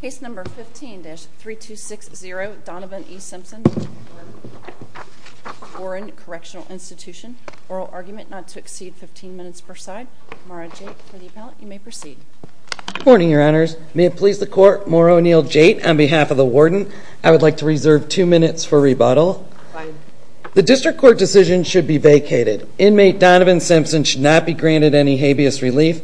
Case No. 15-3260 Donovan E. Simpson v. Warren Correctional Institution Oral argument not to exceed 15 minutes per side. Maura Jait for the appellate. You may proceed. Good morning, Your Honors. May it please the Court, Maura O'Neill Jait on behalf of the Warden. I would like to reserve two minutes for rebuttal. The District Court decision should be vacated. Inmate Donovan Simpson should not be granted any habeas relief.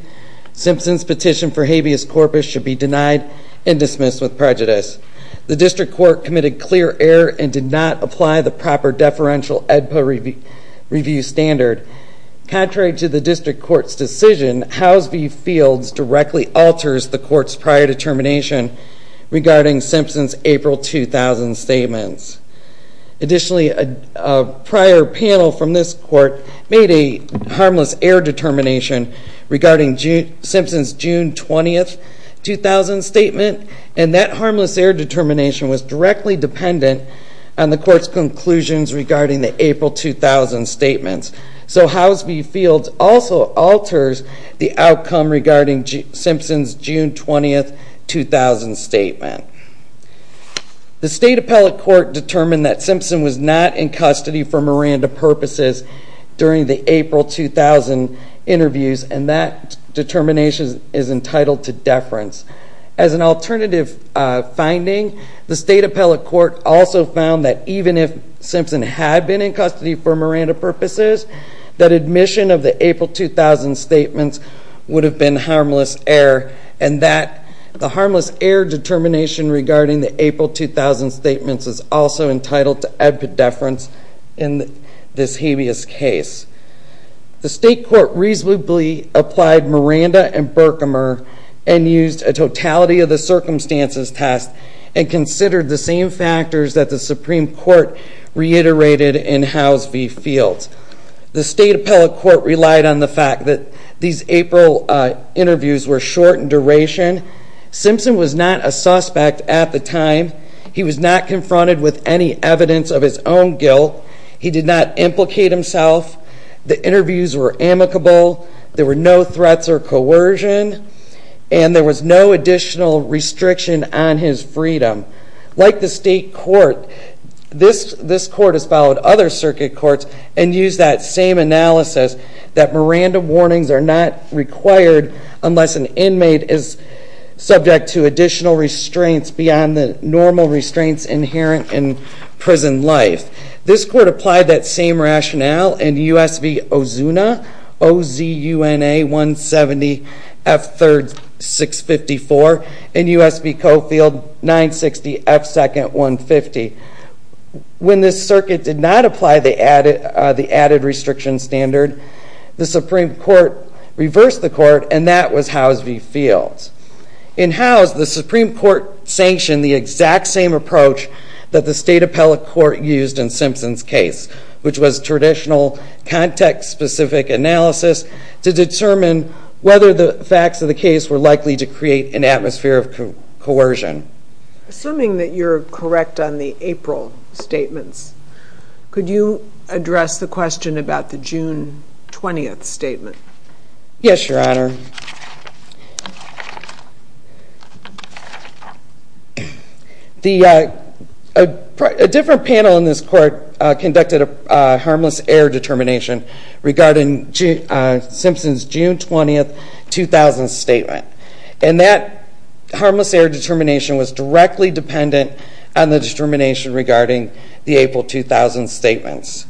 Simpson's petition for habeas corpus should be denied and dismissed with prejudice. The District Court committed clear error and did not apply the proper deferential ADPA review standard. Contrary to the District Court's decision, Howes v. Fields directly alters the Court's prior determination regarding Simpson's April 2000 statements. Additionally, a prior panel from this Court made a harmless error determination regarding Simpson's June 20, 2000 statement, and that harmless error determination was directly dependent on the Court's conclusions regarding the April 2000 statements. So Howes v. Fields also alters the outcome regarding Simpson's June 20, 2000 statement. The State Appellate Court determined that Simpson was not in custody for Miranda purposes during the April 2000 interviews, and that determination is entitled to deference. As an alternative finding, the State Appellate Court also found that even if Simpson had been in custody for Miranda purposes, that admission of the April 2000 statements would have been harmless error, and that the harmless error determination regarding the April 2000 statements is also entitled to ADPA deference in this habeas case. The State Court reasonably applied Miranda and Berkemer and used a totality of the circumstances test and considered the same factors that the Supreme Court reiterated in Howes v. Fields. The State Appellate Court relied on the fact that these April interviews were short in duration. Simpson was not a suspect at the time. He was not confronted with any evidence of his own guilt. He did not implicate himself. The interviews were amicable. There were no threats or coercion, and there was no additional restriction on his freedom. Like the State Court, this Court has followed other circuit courts and used that same analysis that Miranda warnings are not required unless an inmate is subject to additional restraints beyond the normal restraints inherent in prison life. This Court applied that same rationale in U.S. v. Ozuna, O-Z-U-N-A-170-F-3-654, and U.S. v. Coffield, 960-F-2-150. When this circuit did not apply the added restriction standard, the Supreme Court reversed the Court, and that was Howes v. Fields. In Howes, the Supreme Court sanctioned the exact same approach that the State Appellate Court used in Simpson's case, which was traditional context-specific analysis to determine whether the facts of the case were likely to create an atmosphere of coercion. Assuming that you're correct on the April statements, could you address the question about the June 20th statement? Yes, Your Honor. A different panel in this Court conducted a harmless error determination regarding Simpson's June 20th, 2000 statement, and that harmless error determination was directly dependent on the determination regarding the April 2000 statements.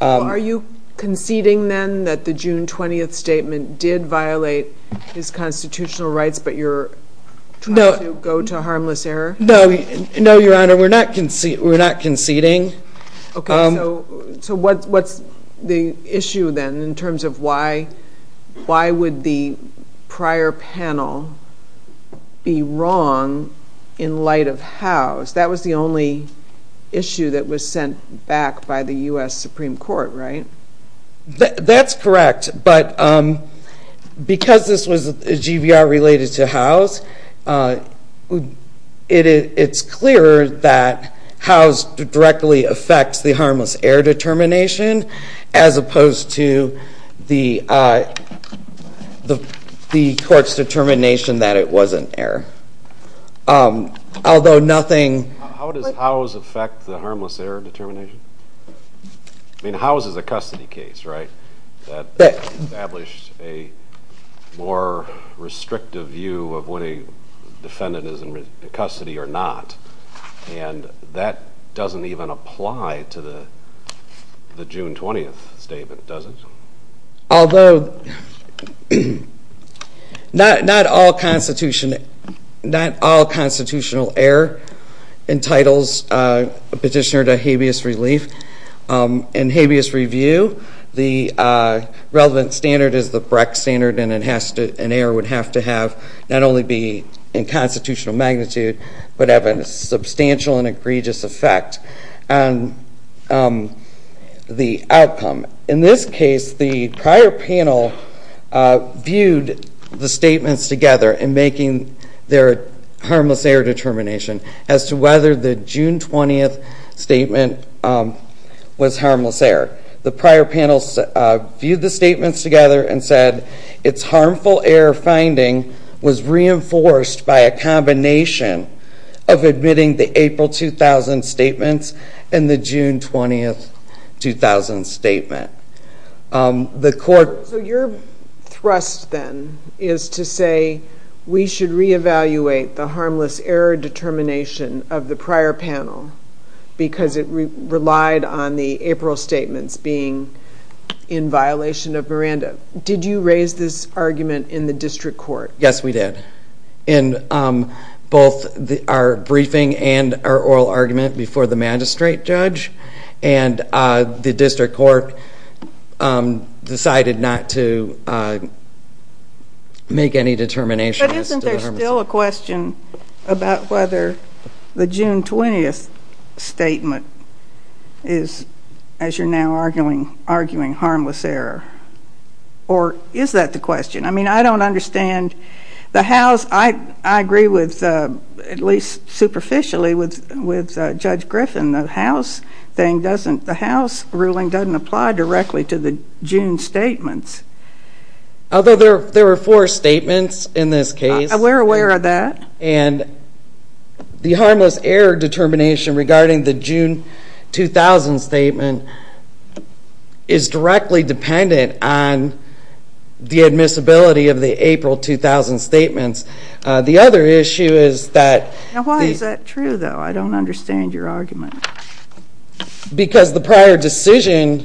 Are you conceding then that the June 20th statement did violate his constitutional rights, but you're trying to go to harmless error? No, Your Honor, we're not conceding. Okay, so what's the issue then in terms of why would the prior panel be wrong in light of Howes? That was the only issue that was sent back by the U.S. Supreme Court, right? That's correct, but because this was a GVR related to Howes, it's clear that Howes directly affects the harmless error determination as opposed to the Court's determination that it was an error. How does Howes affect the harmless error determination? I mean, Howes is a custody case, right, that established a more restrictive view of when a defendant is in custody or not, and that doesn't even apply to the June 20th statement, does it? Although not all constitutional error entitles a petitioner to habeas relief. In habeas review, the relevant standard is the Breck standard, and an error would have to have not only be in constitutional magnitude, but have a substantial and egregious effect on the outcome. In this case, the prior panel viewed the statements together in making their harmless error determination as to whether the June 20th statement was harmless error. The prior panel viewed the statements together and said its harmful error finding was reinforced by a combination of admitting the April 2000 statements and the June 20th 2000 statement. So your thrust then is to say, we should reevaluate the harmless error determination of the prior panel because it relied on the April statements being in violation of Miranda. Did you raise this argument in the district court? Yes, we did. In both our briefing and our oral argument before the magistrate judge, and the district court decided not to make any determinations. But isn't there still a question about whether the June 20th statement is, as you're now arguing, harmless error? Or is that the question? I mean, I don't understand the House. I agree with, at least superficially, with Judge Griffin. The House ruling doesn't apply directly to the June statements. Although there were four statements in this case. We're aware of that. And the harmless error determination regarding the June 2000 statement is directly dependent on the admissibility of the April 2000 statements. The other issue is that the- Why is that true, though? I don't understand your argument. Because the prior decision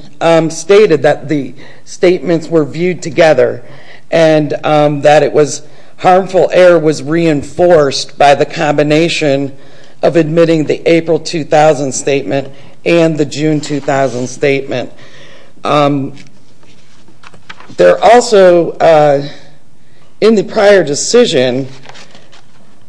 stated that the statements were viewed together and that harmful error was reinforced by the combination of admitting the April 2000 statement and the June 2000 statement. There also, in the prior decision,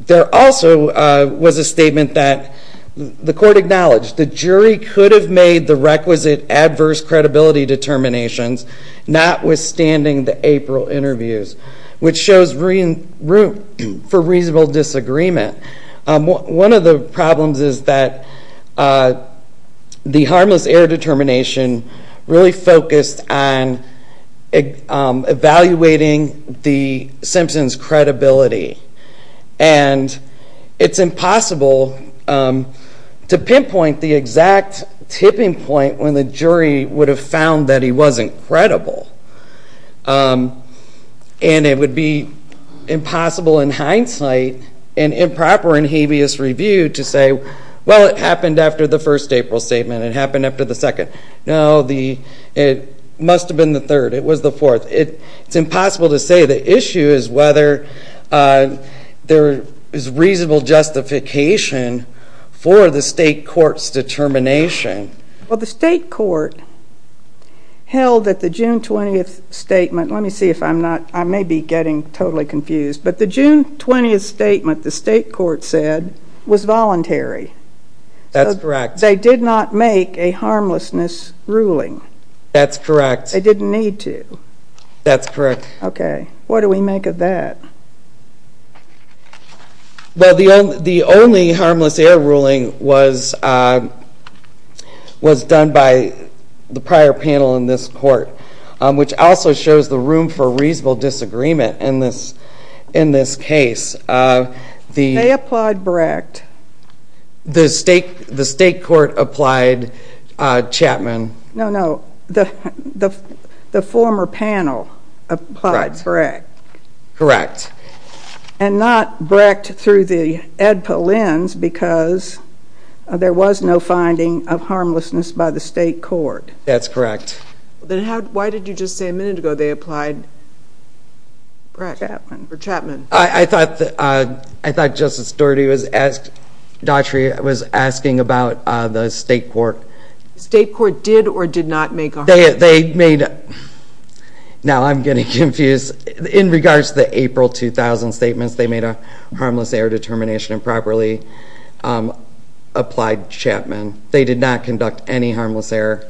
there also was a statement that the court acknowledged. The jury could have made the requisite adverse credibility determinations, notwithstanding the April interviews, which shows room for reasonable disagreement. One of the problems is that the harmless error determination really focused on evaluating the Simpson's credibility. And it's impossible to pinpoint the exact tipping point when the jury would have found that he wasn't credible. And it would be impossible in hindsight and improper in habeas review to say, well, it happened after the first April statement. It happened after the second. No, it must have been the third. It was the fourth. It's impossible to say. The issue is whether there is reasonable justification for the state court's determination. Well, the state court held that the June 20th statement let me see if I'm not, I may be getting totally confused, but the June 20th statement the state court said was voluntary. That's correct. They did not make a harmlessness ruling. That's correct. They didn't need to. That's correct. Okay. What do we make of that? Well, the only harmless error ruling was done by the prior panel in this court, which also shows the room for reasonable disagreement in this case. They applied Brecht. The state court applied Chapman. No, no, the former panel applied Brecht. Correct. And not Brecht through the EDPA lens because there was no finding of harmlessness by the state court. That's correct. Then why did you just say a minute ago they applied Chapman? I thought Justice Daughtry was asking about the state court. The state court did or did not make a harmlessness ruling. Now I'm getting confused. In regards to the April 2000 statements, they made a harmless error determination and properly applied Chapman. They did not conduct any harmless error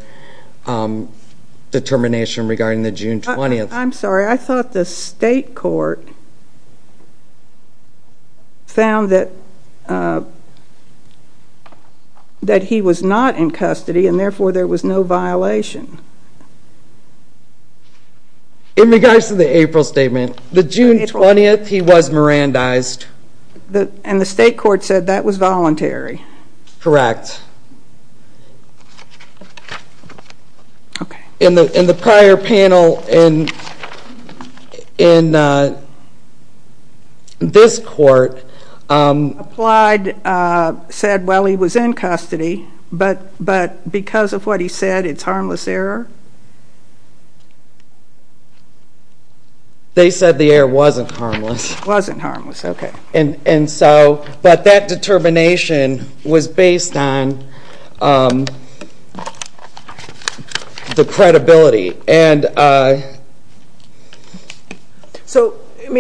determination regarding the June 20th. I'm sorry. I thought the state court found that he was not in custody, and therefore there was no violation. In regards to the April statement, the June 20th he was Mirandized. And the state court said that was voluntary. Correct. In the prior panel in this court. Applied, said, well, he was in custody, but because of what he said it's harmless error? They said the error wasn't harmless. Wasn't harmless. Okay. But that determination was based on the credibility.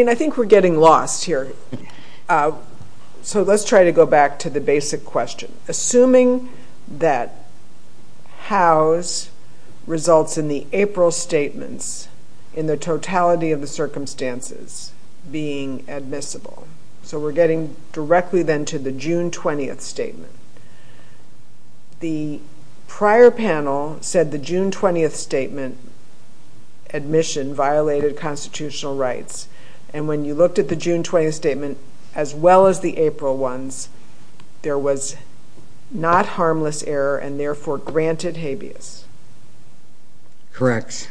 I think we're getting lost here. Let's try to go back to the basic question. Assuming that Howe's results in the April statements, in the totality of the circumstances being admissible. So we're getting directly then to the June 20th statement. The prior panel said the June 20th statement, admission violated constitutional rights. And when you looked at the June 20th statement, as well as the April ones, there was not harmless error and therefore granted habeas. Correct.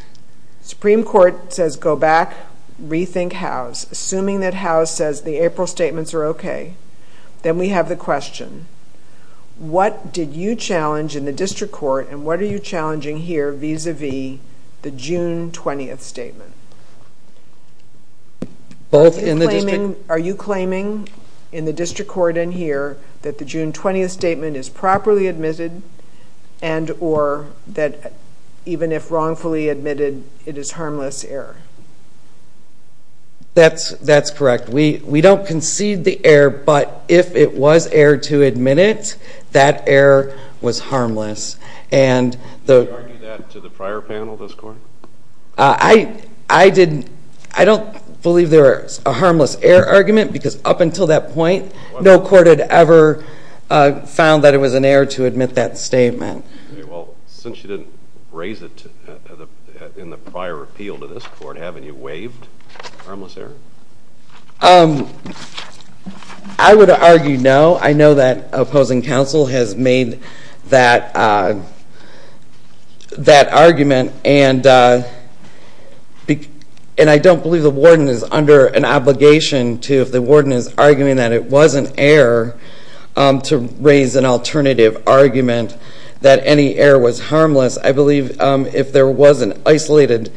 Supreme Court says go back, rethink Howe's. Assuming that Howe's says the April statements are okay. Then we have the question. What did you challenge in the district court and what are you challenging here vis-a-vis the June 20th statement? Both in the district. Are you claiming in the district court in here that the June 20th statement is properly admitted and or that even if wrongfully admitted, it is harmless error? That's correct. We don't concede the error, but if it was error to admit it, that error was harmless. Did you argue that to the prior panel this court? I don't believe there is a harmless error argument because up until that point, no court had ever found that it was an error to admit that statement. Well, since you didn't raise it in the prior appeal to this court, haven't you waived harmless error? I would argue no. I know that opposing counsel has made that argument, and I don't believe the warden is under an obligation to, if the warden is arguing that it was an error, to raise an alternative argument that any error was harmless. I believe if there was an isolated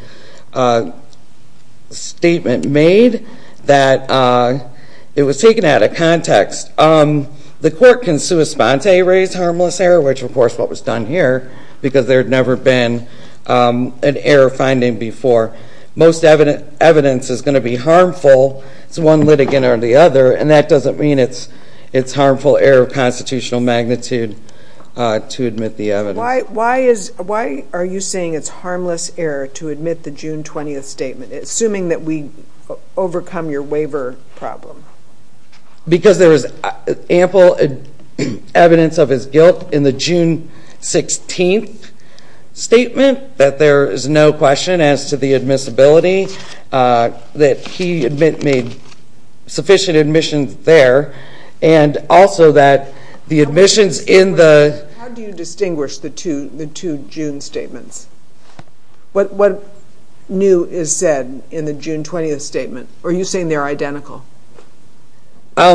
statement made, that it was taken out of context. The court can sua sponte raise harmless error, which of course is what was done here, because there had never been an error finding before. Most evidence is going to be harmful. It's one litigant or the other, and that doesn't mean it's harmful error of constitutional magnitude to admit the evidence. Why are you saying it's harmless error to admit the June 20th statement, assuming that we overcome your waiver problem? Because there is ample evidence of his guilt in the June 16th statement that there is no question as to the admissibility that he made sufficient admissions there, and also that the admissions in the How do you distinguish the two June statements? What new is said in the June 20th statement? Are you saying they're identical? They're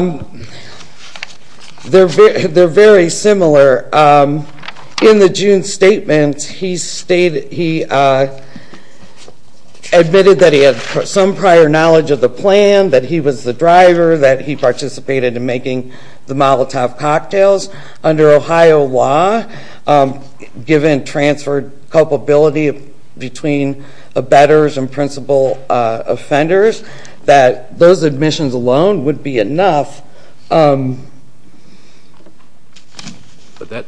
very similar. In the June statement, he admitted that he had some prior knowledge of the plan, that he was the driver, that he participated in making the Molotov cocktails. Under Ohio law, given transferred culpability between abettors and principal offenders, that those admissions alone would be enough. But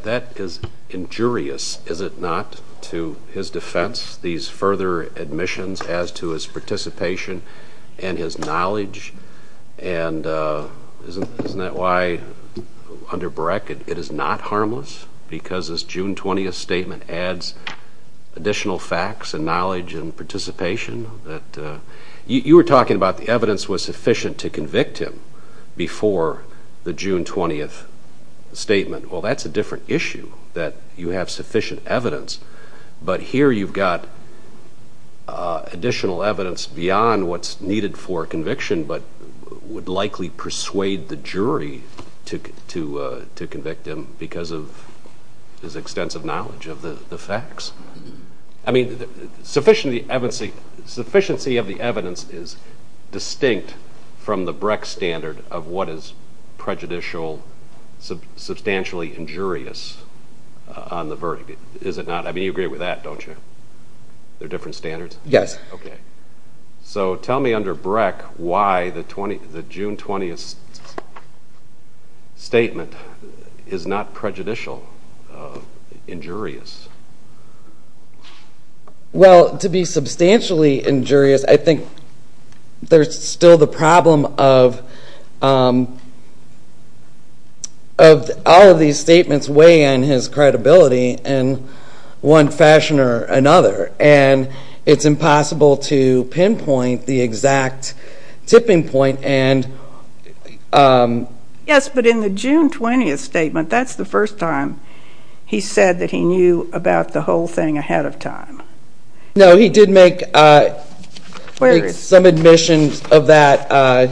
that is injurious, is it not, to his defense, these further admissions as to his participation and his knowledge? And isn't that why under Breck it is not harmless? Because this June 20th statement adds additional facts and knowledge and participation? You were talking about the evidence was sufficient to convict him before the June 20th statement. Well, that's a different issue, that you have sufficient evidence. But here you've got additional evidence beyond what's needed for conviction but would likely persuade the jury to convict him because of his extensive knowledge of the facts. I mean, sufficiency of the evidence is distinct from the Breck standard of what is prejudicial, substantially injurious on the verdict, is it not? I mean, you agree with that, don't you? They're different standards? Yes. Okay. So tell me under Breck why the June 20th statement is not prejudicial, injurious. Well, to be substantially injurious, I think there's still the problem of all of these statements weighing on his credibility in one fashion or another. And it's impossible to pinpoint the exact tipping point. Yes, but in the June 20th statement, that's the first time he said that he knew about the whole thing ahead of time. No, he did make some admissions of that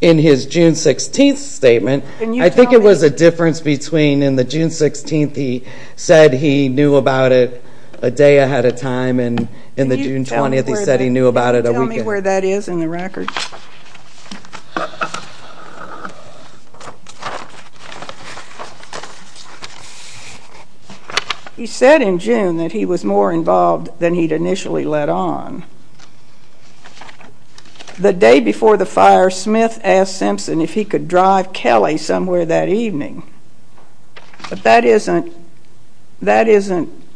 in his June 16th statement. I think it was a difference between in the June 16th he said he knew about it a day ahead of time and in the June 20th he said he knew about it a weekend. Can you tell me where that is in the record? He said in June that he was more involved than he'd initially let on. The day before the fire, Smith asked Simpson if he could drive Kelly somewhere that evening. But that isn't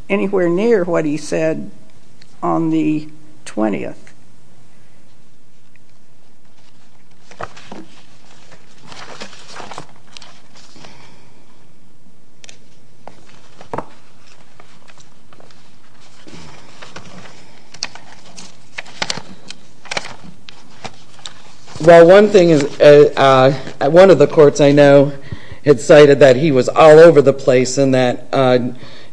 anywhere near what he said on the 20th. Well, one thing is, one of the courts I know had cited that he was all over the place in that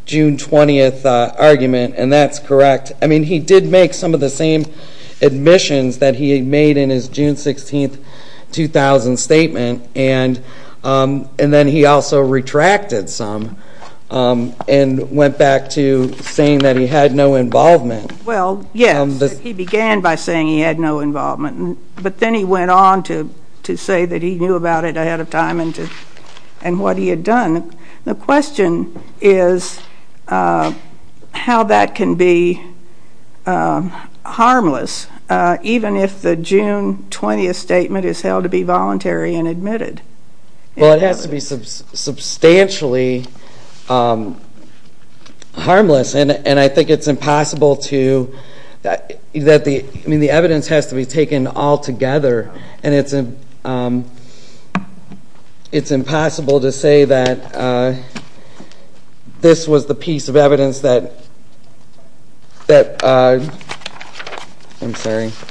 June 20th argument, and that's correct. I mean, he did make some of the same admissions that he made in his June 16th 2000 statement, and then he also retracted some and went back to saying that he had no involvement. Well, yes, he began by saying he had no involvement, but then he went on to say that he knew about it ahead of time and what he had done. And the question is how that can be harmless, even if the June 20th statement is held to be voluntary and admitted. Well, it has to be substantially harmless, and I think it's impossible to – I mean, the evidence has to be taken all together, and it's impossible to say that this was the piece of evidence that – I'm sorry –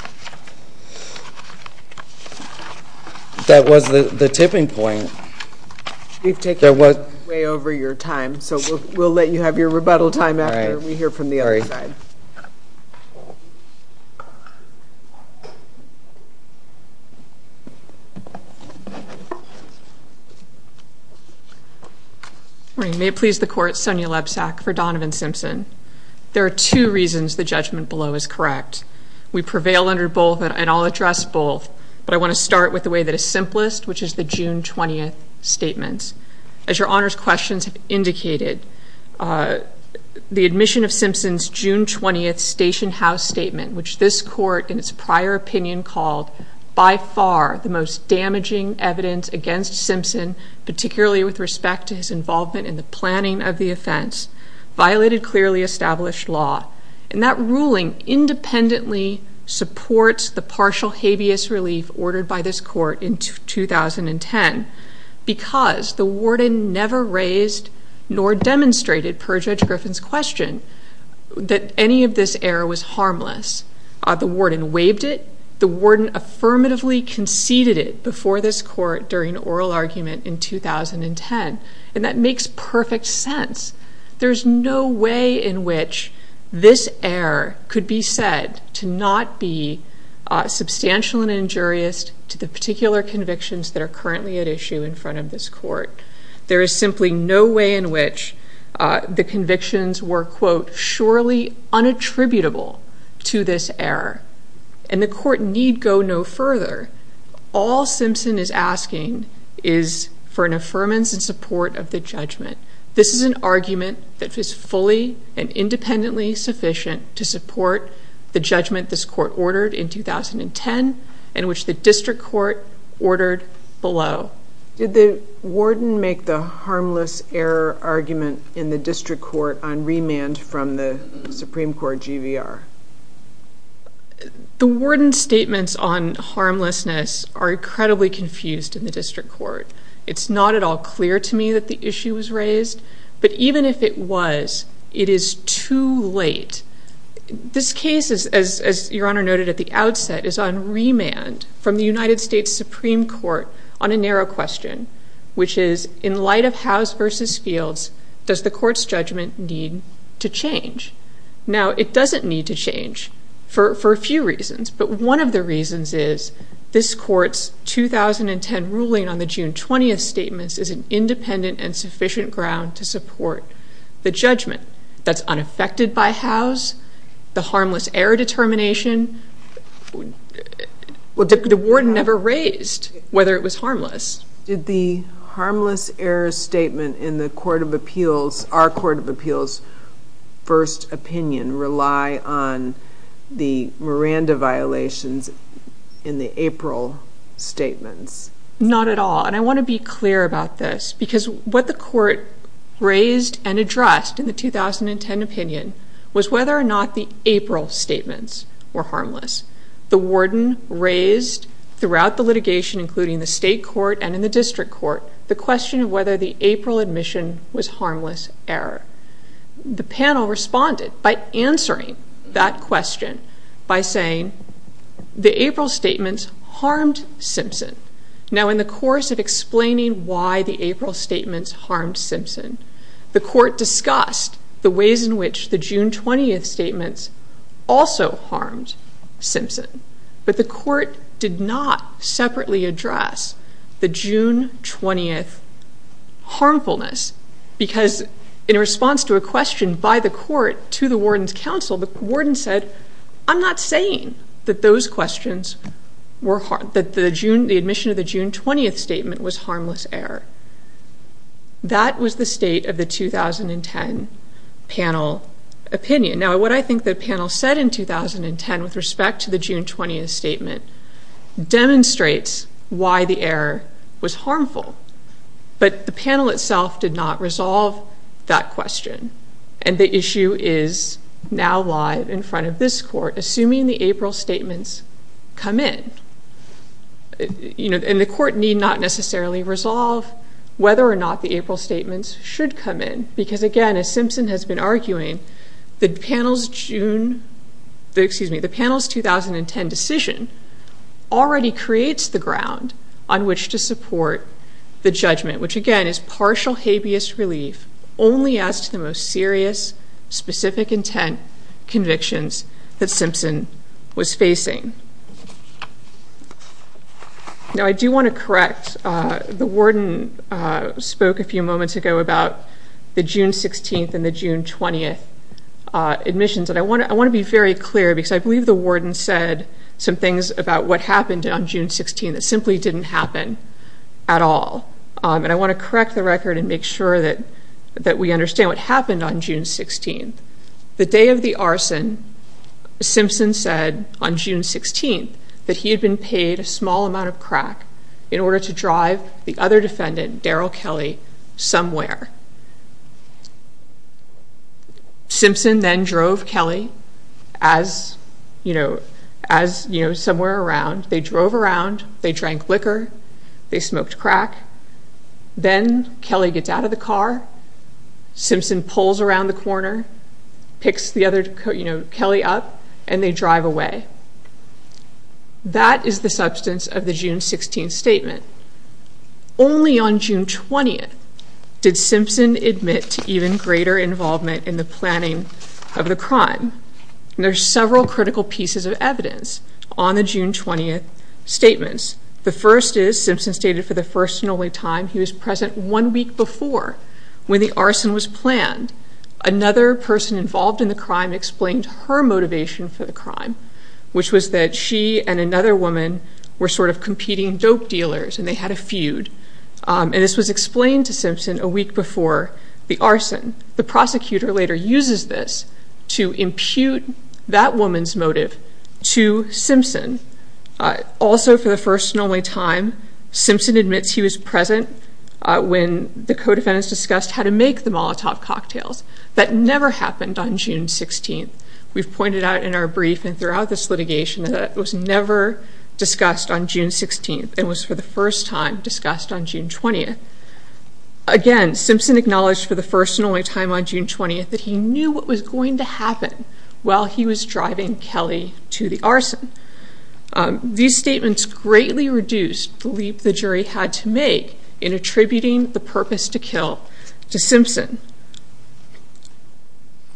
that was the tipping point. We've taken you way over your time, so we'll let you have your rebuttal time after we hear from the other side. Good morning. May it please the Court, Sonia Lebsack for Donovan Simpson. There are two reasons the judgment below is correct. We prevail under both, and I'll address both, but I want to start with the way that is simplest, which is the June 20th statement. As your Honor's questions have indicated, the admission of Simpson's June 20th station house statement, which this Court in its prior opinion called by far the most damaging evidence against Simpson, particularly with respect to his involvement in the planning of the offense, violated clearly established law. And that ruling independently supports the partial habeas relief ordered by this Court in 2010 because the warden never raised nor demonstrated, per Judge Griffin's question, that any of this error was harmless. The warden waived it. The warden affirmatively conceded it before this Court during oral argument in 2010, and that makes perfect sense. There's no way in which this error could be said to not be substantial and injurious to the particular convictions that are currently at issue in front of this Court. There is simply no way in which the convictions were, quote, surely unattributable to this error, and the Court need go no further. All Simpson is asking is for an affirmance in support of the judgment. This is an argument that is fully and independently sufficient to support the judgment this Court ordered in 2010 and which the district court ordered below. Did the warden make the harmless error argument in the district court on remand from the Supreme Court GVR? The warden's statements on harmlessness are incredibly confused in the district court. It's not at all clear to me that the issue was raised, but even if it was, it is too late. This case is, as Your Honor noted at the outset, is on remand from the United States Supreme Court on a narrow question, which is, in light of Howes v. Fields, does the Court's judgment need to change? Now, it doesn't need to change for a few reasons, but one of the reasons is this Court's 2010 ruling on the June 20th statements is an independent and sufficient ground to support the judgment that's unaffected by Howes, the harmless error determination. Well, the warden never raised whether it was harmless. Did the harmless error statement in the Court of Appeals, our Court of Appeals' first opinion, rely on the Miranda violations in the April statements? Not at all, and I want to be clear about this, because what the Court raised and addressed in the 2010 opinion was whether or not the April statements were harmless. The warden raised throughout the litigation, including the state court and in the district court, the question of whether the April admission was harmless error. The panel responded by answering that question by saying, the April statements harmed Simpson. Now, in the course of explaining why the April statements harmed Simpson, the Court discussed the ways in which the June 20th statements also harmed Simpson, but the Court did not separately address the June 20th harmfulness, because in response to a question by the court to the warden's counsel, the warden said, I'm not saying that the admission of the June 20th statement was harmless error. That was the state of the 2010 panel opinion. Now, what I think the panel said in 2010 with respect to the June 20th statement demonstrates why the error was harmful, but the panel itself did not resolve that question, and the issue is now live in front of this Court, assuming the April statements come in. And the Court need not necessarily resolve whether or not the April statements should come in, because again, as Simpson has been arguing, the panel's June, excuse me, the panel's 2010 decision already creates the ground on which to support the judgment, which again is partial habeas relief only as to the most serious, specific intent convictions that Simpson was facing. Now, I do want to correct, the warden spoke a few moments ago about the June 16th and the June 20th admissions, and I want to be very clear, because I believe the warden said some things about what happened on June 16th that simply didn't happen at all, and I want to correct the record and make sure that we understand what happened on June 16th. The day of the arson, Simpson said on June 16th that he had been paid a small amount of crack in order to drive the other defendant, Daryl Kelly, somewhere. Simpson then drove Kelly as, you know, as, you know, somewhere around. They drove around, they drank liquor, they smoked crack, then Kelly gets out of the car, Simpson pulls around the corner, picks the other, you know, Kelly up, and they drive away. That is the substance of the June 16th statement. Only on June 20th did Simpson admit to even greater involvement in the planning of the crime. There are several critical pieces of evidence on the June 20th statements. The first is Simpson stated for the first and only time he was present one week before when the arson was planned. Another person involved in the crime explained her motivation for the crime, which was that she and another woman were sort of competing dope dealers and they had a feud, and this was explained to Simpson a week before the arson. The prosecutor later uses this to impute that woman's motive to Simpson. Also for the first and only time, Simpson admits he was present when the co-defendants discussed how to make the Molotov cocktails. That never happened on June 16th. We've pointed out in our brief and throughout this litigation that it was never discussed on June 16th. It was for the first time discussed on June 20th. Again, Simpson acknowledged for the first and only time on June 20th that he knew what was going to happen while he was driving Kelly to the arson. These statements greatly reduced the leap the jury had to make in attributing the purpose to kill to Simpson.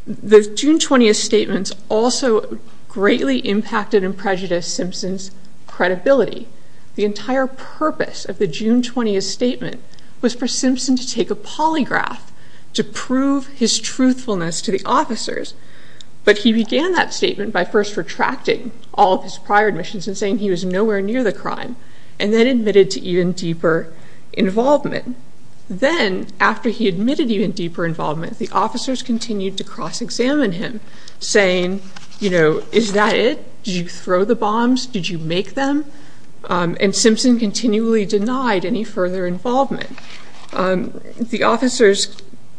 The June 20th statements also greatly impacted and prejudiced Simpson's credibility. The entire purpose of the June 20th statement was for Simpson to take a polygraph to prove his truthfulness to the officers, but he began that statement by first retracting all of his prior admissions and saying he was nowhere near the crime, and then admitted to even deeper involvement. Then, after he admitted to even deeper involvement, the officers continued to cross-examine him, saying, you know, is that it? Did you throw the bombs? Did you make them? And Simpson continually denied any further involvement. The officers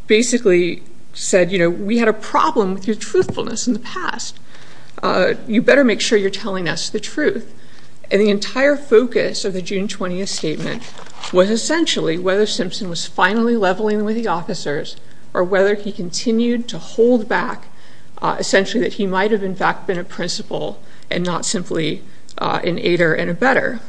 basically said, you know, we had a problem with your truthfulness in the past. You better make sure you're telling us the truth. And the entire focus of the June 20th statement was essentially whether Simpson was finally leveling with the officers or whether he continued to hold back, essentially that he might have, in fact, been a principal and not simply an aider and a better.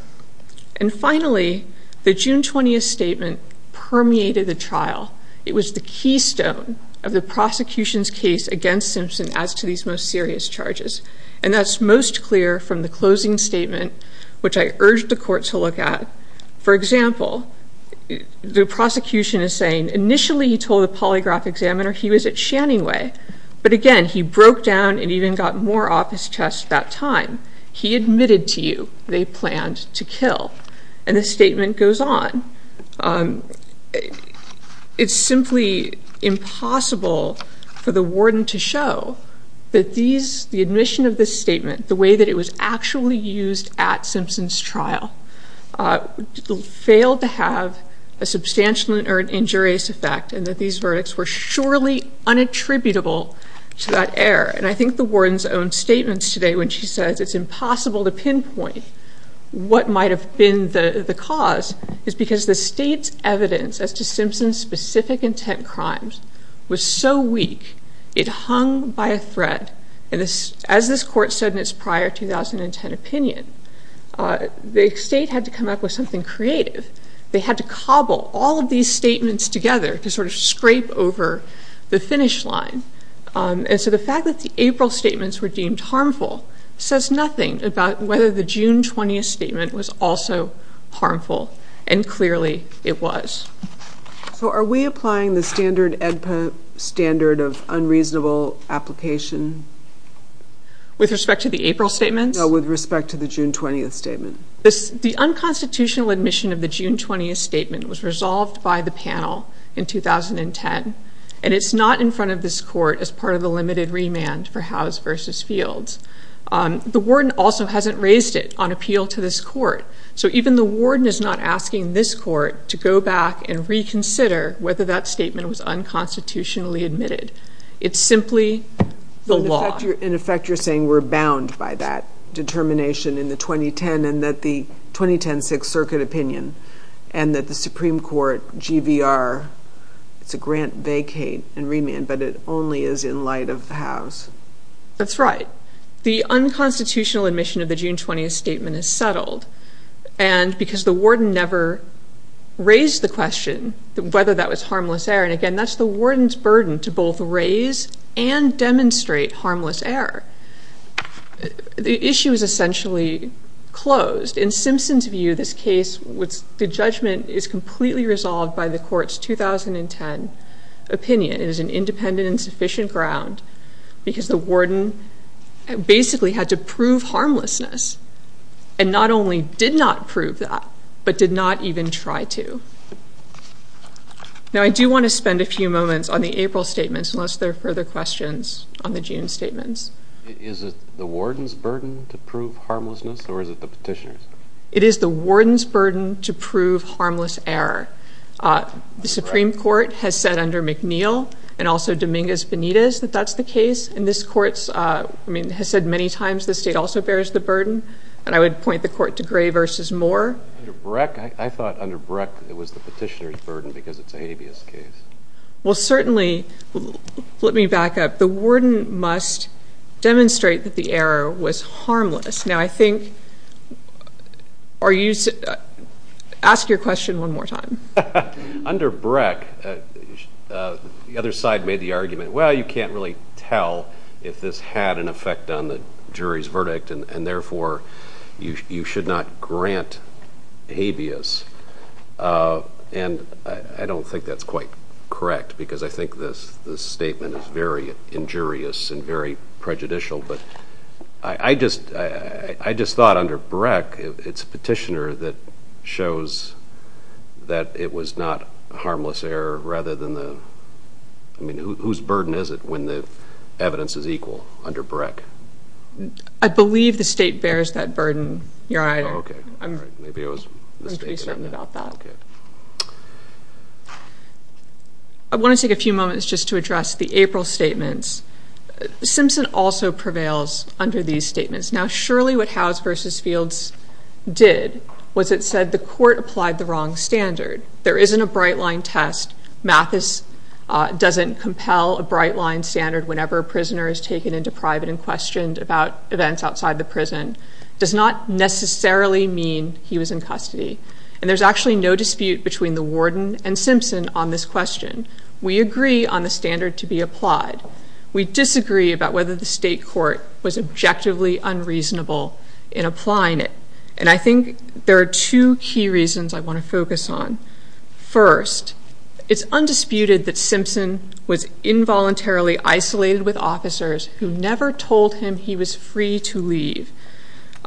And finally, the June 20th statement permeated the trial. It was the keystone of the prosecution's case against Simpson as to these most serious charges. And that's most clear from the closing statement, which I urged the court to look at. For example, the prosecution is saying initially he told the polygraph examiner he was at Shanning Way, but again, he broke down and even got more off his chest that time. He admitted to you they planned to kill. And the statement goes on. It's simply impossible for the warden to show that these, the admission of this statement, the way that it was actually used at Simpson's trial, failed to have a substantial or injurious effect and that these verdicts were surely unattributable to that error. And I think the warden's own statements today when she says it's impossible to pinpoint what might have been the cause is because the state's evidence as to Simpson's specific intent crimes was so weak it hung by a thread. And as this court said in its prior 2010 opinion, the state had to come up with something creative. They had to cobble all of these statements together to sort of scrape over the finish line. And so the fact that the April statements were deemed harmful says nothing about whether the June 20th statement was also harmful, and clearly it was. So are we applying the standard EDPA standard of unreasonable application? With respect to the April statements? No, with respect to the June 20th statement. The unconstitutional admission of the June 20th statement was resolved by the panel in 2010, and it's not in front of this court as part of the limited remand for Howes v. Fields. The warden also hasn't raised it on appeal to this court. So even the warden is not asking this court to go back and reconsider whether that statement was unconstitutionally admitted. It's simply the law. In effect, you're saying we're bound by that determination in the 2010 and that the 2010 Sixth Circuit opinion and that the Supreme Court GVR, it's a grant vacate and remand, but it only is in light of Howes. That's right. The unconstitutional admission of the June 20th statement is settled, and because the warden never raised the question whether that was harmless error, and again, that's the warden's burden to both raise and demonstrate harmless error. The issue is essentially closed. In Simpson's view, this case, the judgment is completely resolved by the court's 2010 opinion. It is an independent and sufficient ground because the warden basically had to prove harmlessness and not only did not prove that but did not even try to. Now, I do want to spend a few moments on the April statements unless there are further questions on the June statements. Is it the warden's burden to prove harmlessness or is it the petitioner's? It is the warden's burden to prove harmless error. The Supreme Court has said under McNeill and also Dominguez-Benitez that that's the case, and this court has said many times the state also bears the burden, and I would point the court to Gray v. Moore. Under Breck, I thought under Breck it was the petitioner's burden because it's an habeas case. Well, certainly, let me back up. The warden must demonstrate that the error was harmless. Now, I think are you ask your question one more time. Under Breck, the other side made the argument, well, you can't really tell if this had an effect on the jury's verdict, and therefore you should not grant habeas, and I don't think that's quite correct because I think this statement is very injurious and very prejudicial, but I just thought under Breck it's petitioner that shows that it was not harmless error rather than the, I mean, whose burden is it when the evidence is equal under Breck? I believe the state bears that burden, Your Honor. Okay. I'm pretty certain about that. I want to take a few moments just to address the April statements. Simpson also prevails under these statements. Now, surely what Howes v. Fields did was it said the court applied the wrong standard. There isn't a bright line test. Mathis doesn't compel a bright line standard whenever a prisoner is taken into private and questioned about events outside the prison. It does not necessarily mean he was in custody, and there's actually no dispute between the warden and Simpson on this question. We agree on the standard to be applied. We disagree about whether the state court was objectively unreasonable in applying it, and I think there are two key reasons I want to focus on. First, it's undisputed that Simpson was involuntarily isolated with officers who never told him he was free to leave.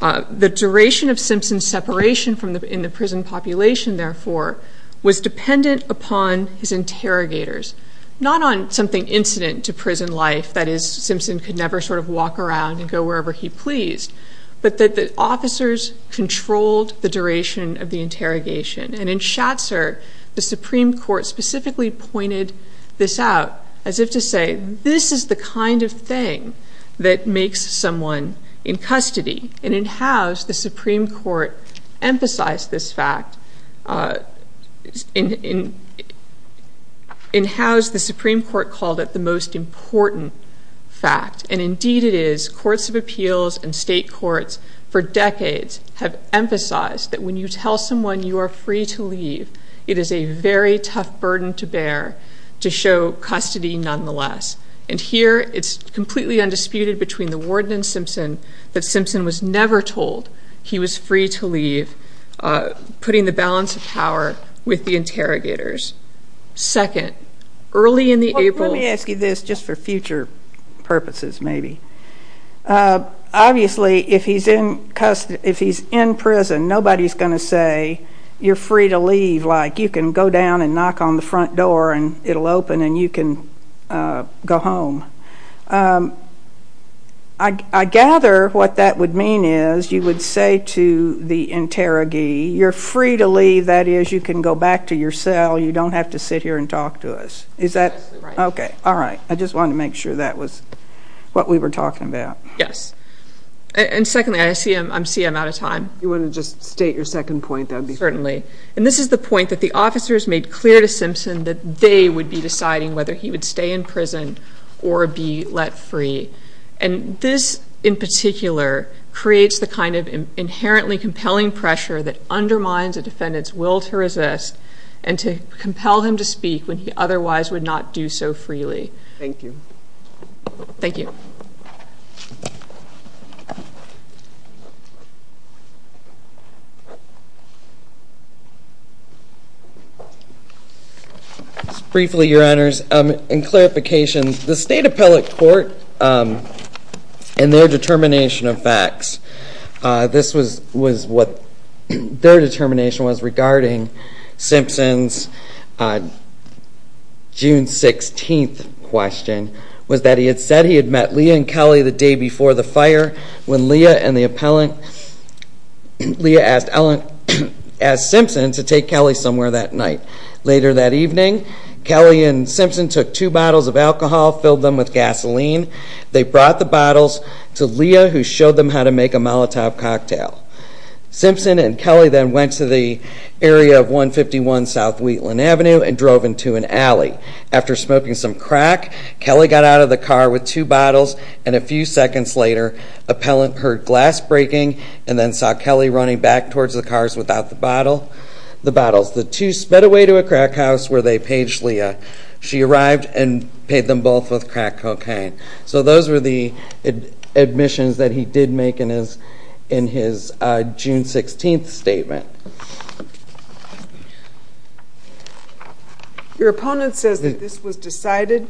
The duration of Simpson's separation in the prison population, therefore, was dependent upon his interrogators, not on something incident to prison life, that is Simpson could never sort of walk around and go wherever he pleased, but that the officers controlled the duration of the interrogation. And in Schatzer, the Supreme Court specifically pointed this out, as if to say this is the kind of thing that makes someone in custody. And in Howes, the Supreme Court emphasized this fact. In Howes, the Supreme Court called it the most important fact, and indeed it is. Courts of Appeals and state courts for decades have emphasized that when you tell someone you are free to leave, it is a very tough burden to bear to show custody nonetheless. And here it's completely undisputed between the warden and Simpson that Simpson was never told he was free to leave, putting the balance of power with the interrogators. Second, early in the April- Let me ask you this, just for future purposes maybe. Obviously, if he's in prison, nobody's going to say, you're free to leave, like you can go down and knock on the front door and it'll open and you can go home. I gather what that would mean is you would say to the interrogee, you're free to leave, that is you can go back to your cell, you don't have to sit here and talk to us. Okay, all right. I just wanted to make sure that was what we were talking about. Yes. And secondly, I see I'm out of time. You want to just state your second point? Certainly. And this is the point that the officers made clear to Simpson that they would be deciding whether he would stay in prison or be let free. And this, in particular, creates the kind of inherently compelling pressure that undermines a defendant's will to resist and to compel him to speak when he otherwise would not do so freely. Thank you. Thank you. Just briefly, Your Honors, in clarification, the State Appellate Court in their determination of facts, this was what their determination was regarding Simpson's June 16th question, was that he had said he had met Leah and Kelly the day before the fire when Leah asked Simpson to take Kelly somewhere that night. Later that evening, Kelly and Simpson took two bottles of alcohol, filled them with gasoline. They brought the bottles to Leah who showed them how to make a Molotov cocktail. Simpson and Kelly then went to the area of 151 South Wheatland Avenue and drove into an alley. After smoking some crack, Kelly got out of the car with two bottles and a few seconds later, appellant heard glass breaking and then saw Kelly running back towards the cars without the bottles. The two sped away to a crack house where they paged Leah. She arrived and paged them both with crack cocaine. So those were the admissions that he did make in his June 16th statement. Your opponent says that this was decided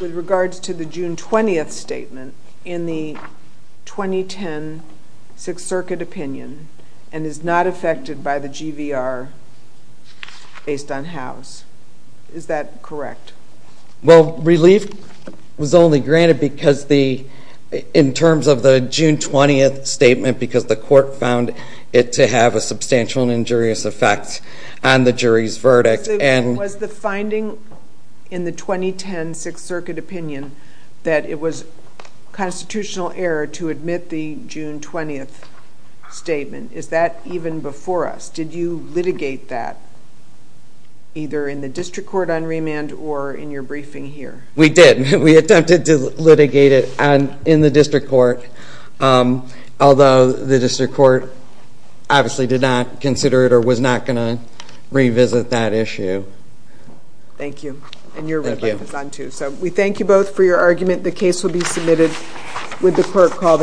with regards to the June 20th statement in the 2010 Sixth Circuit opinion and is not affected by the GVR based on Howes. Is that correct? Well, relief was only granted in terms of the June 20th statement because the court found it to have a substantial and injurious effect on the jury's verdict. Was the finding in the 2010 Sixth Circuit opinion that it was constitutional error to admit the June 20th statement? Is that even before us? Did you litigate that either in the district court on remand or in your briefing here? We did. We attempted to litigate it in the district court, although the district court obviously did not consider it or was not going to revisit that issue. Thank you. We thank you both for your argument. The case will be submitted with the court call.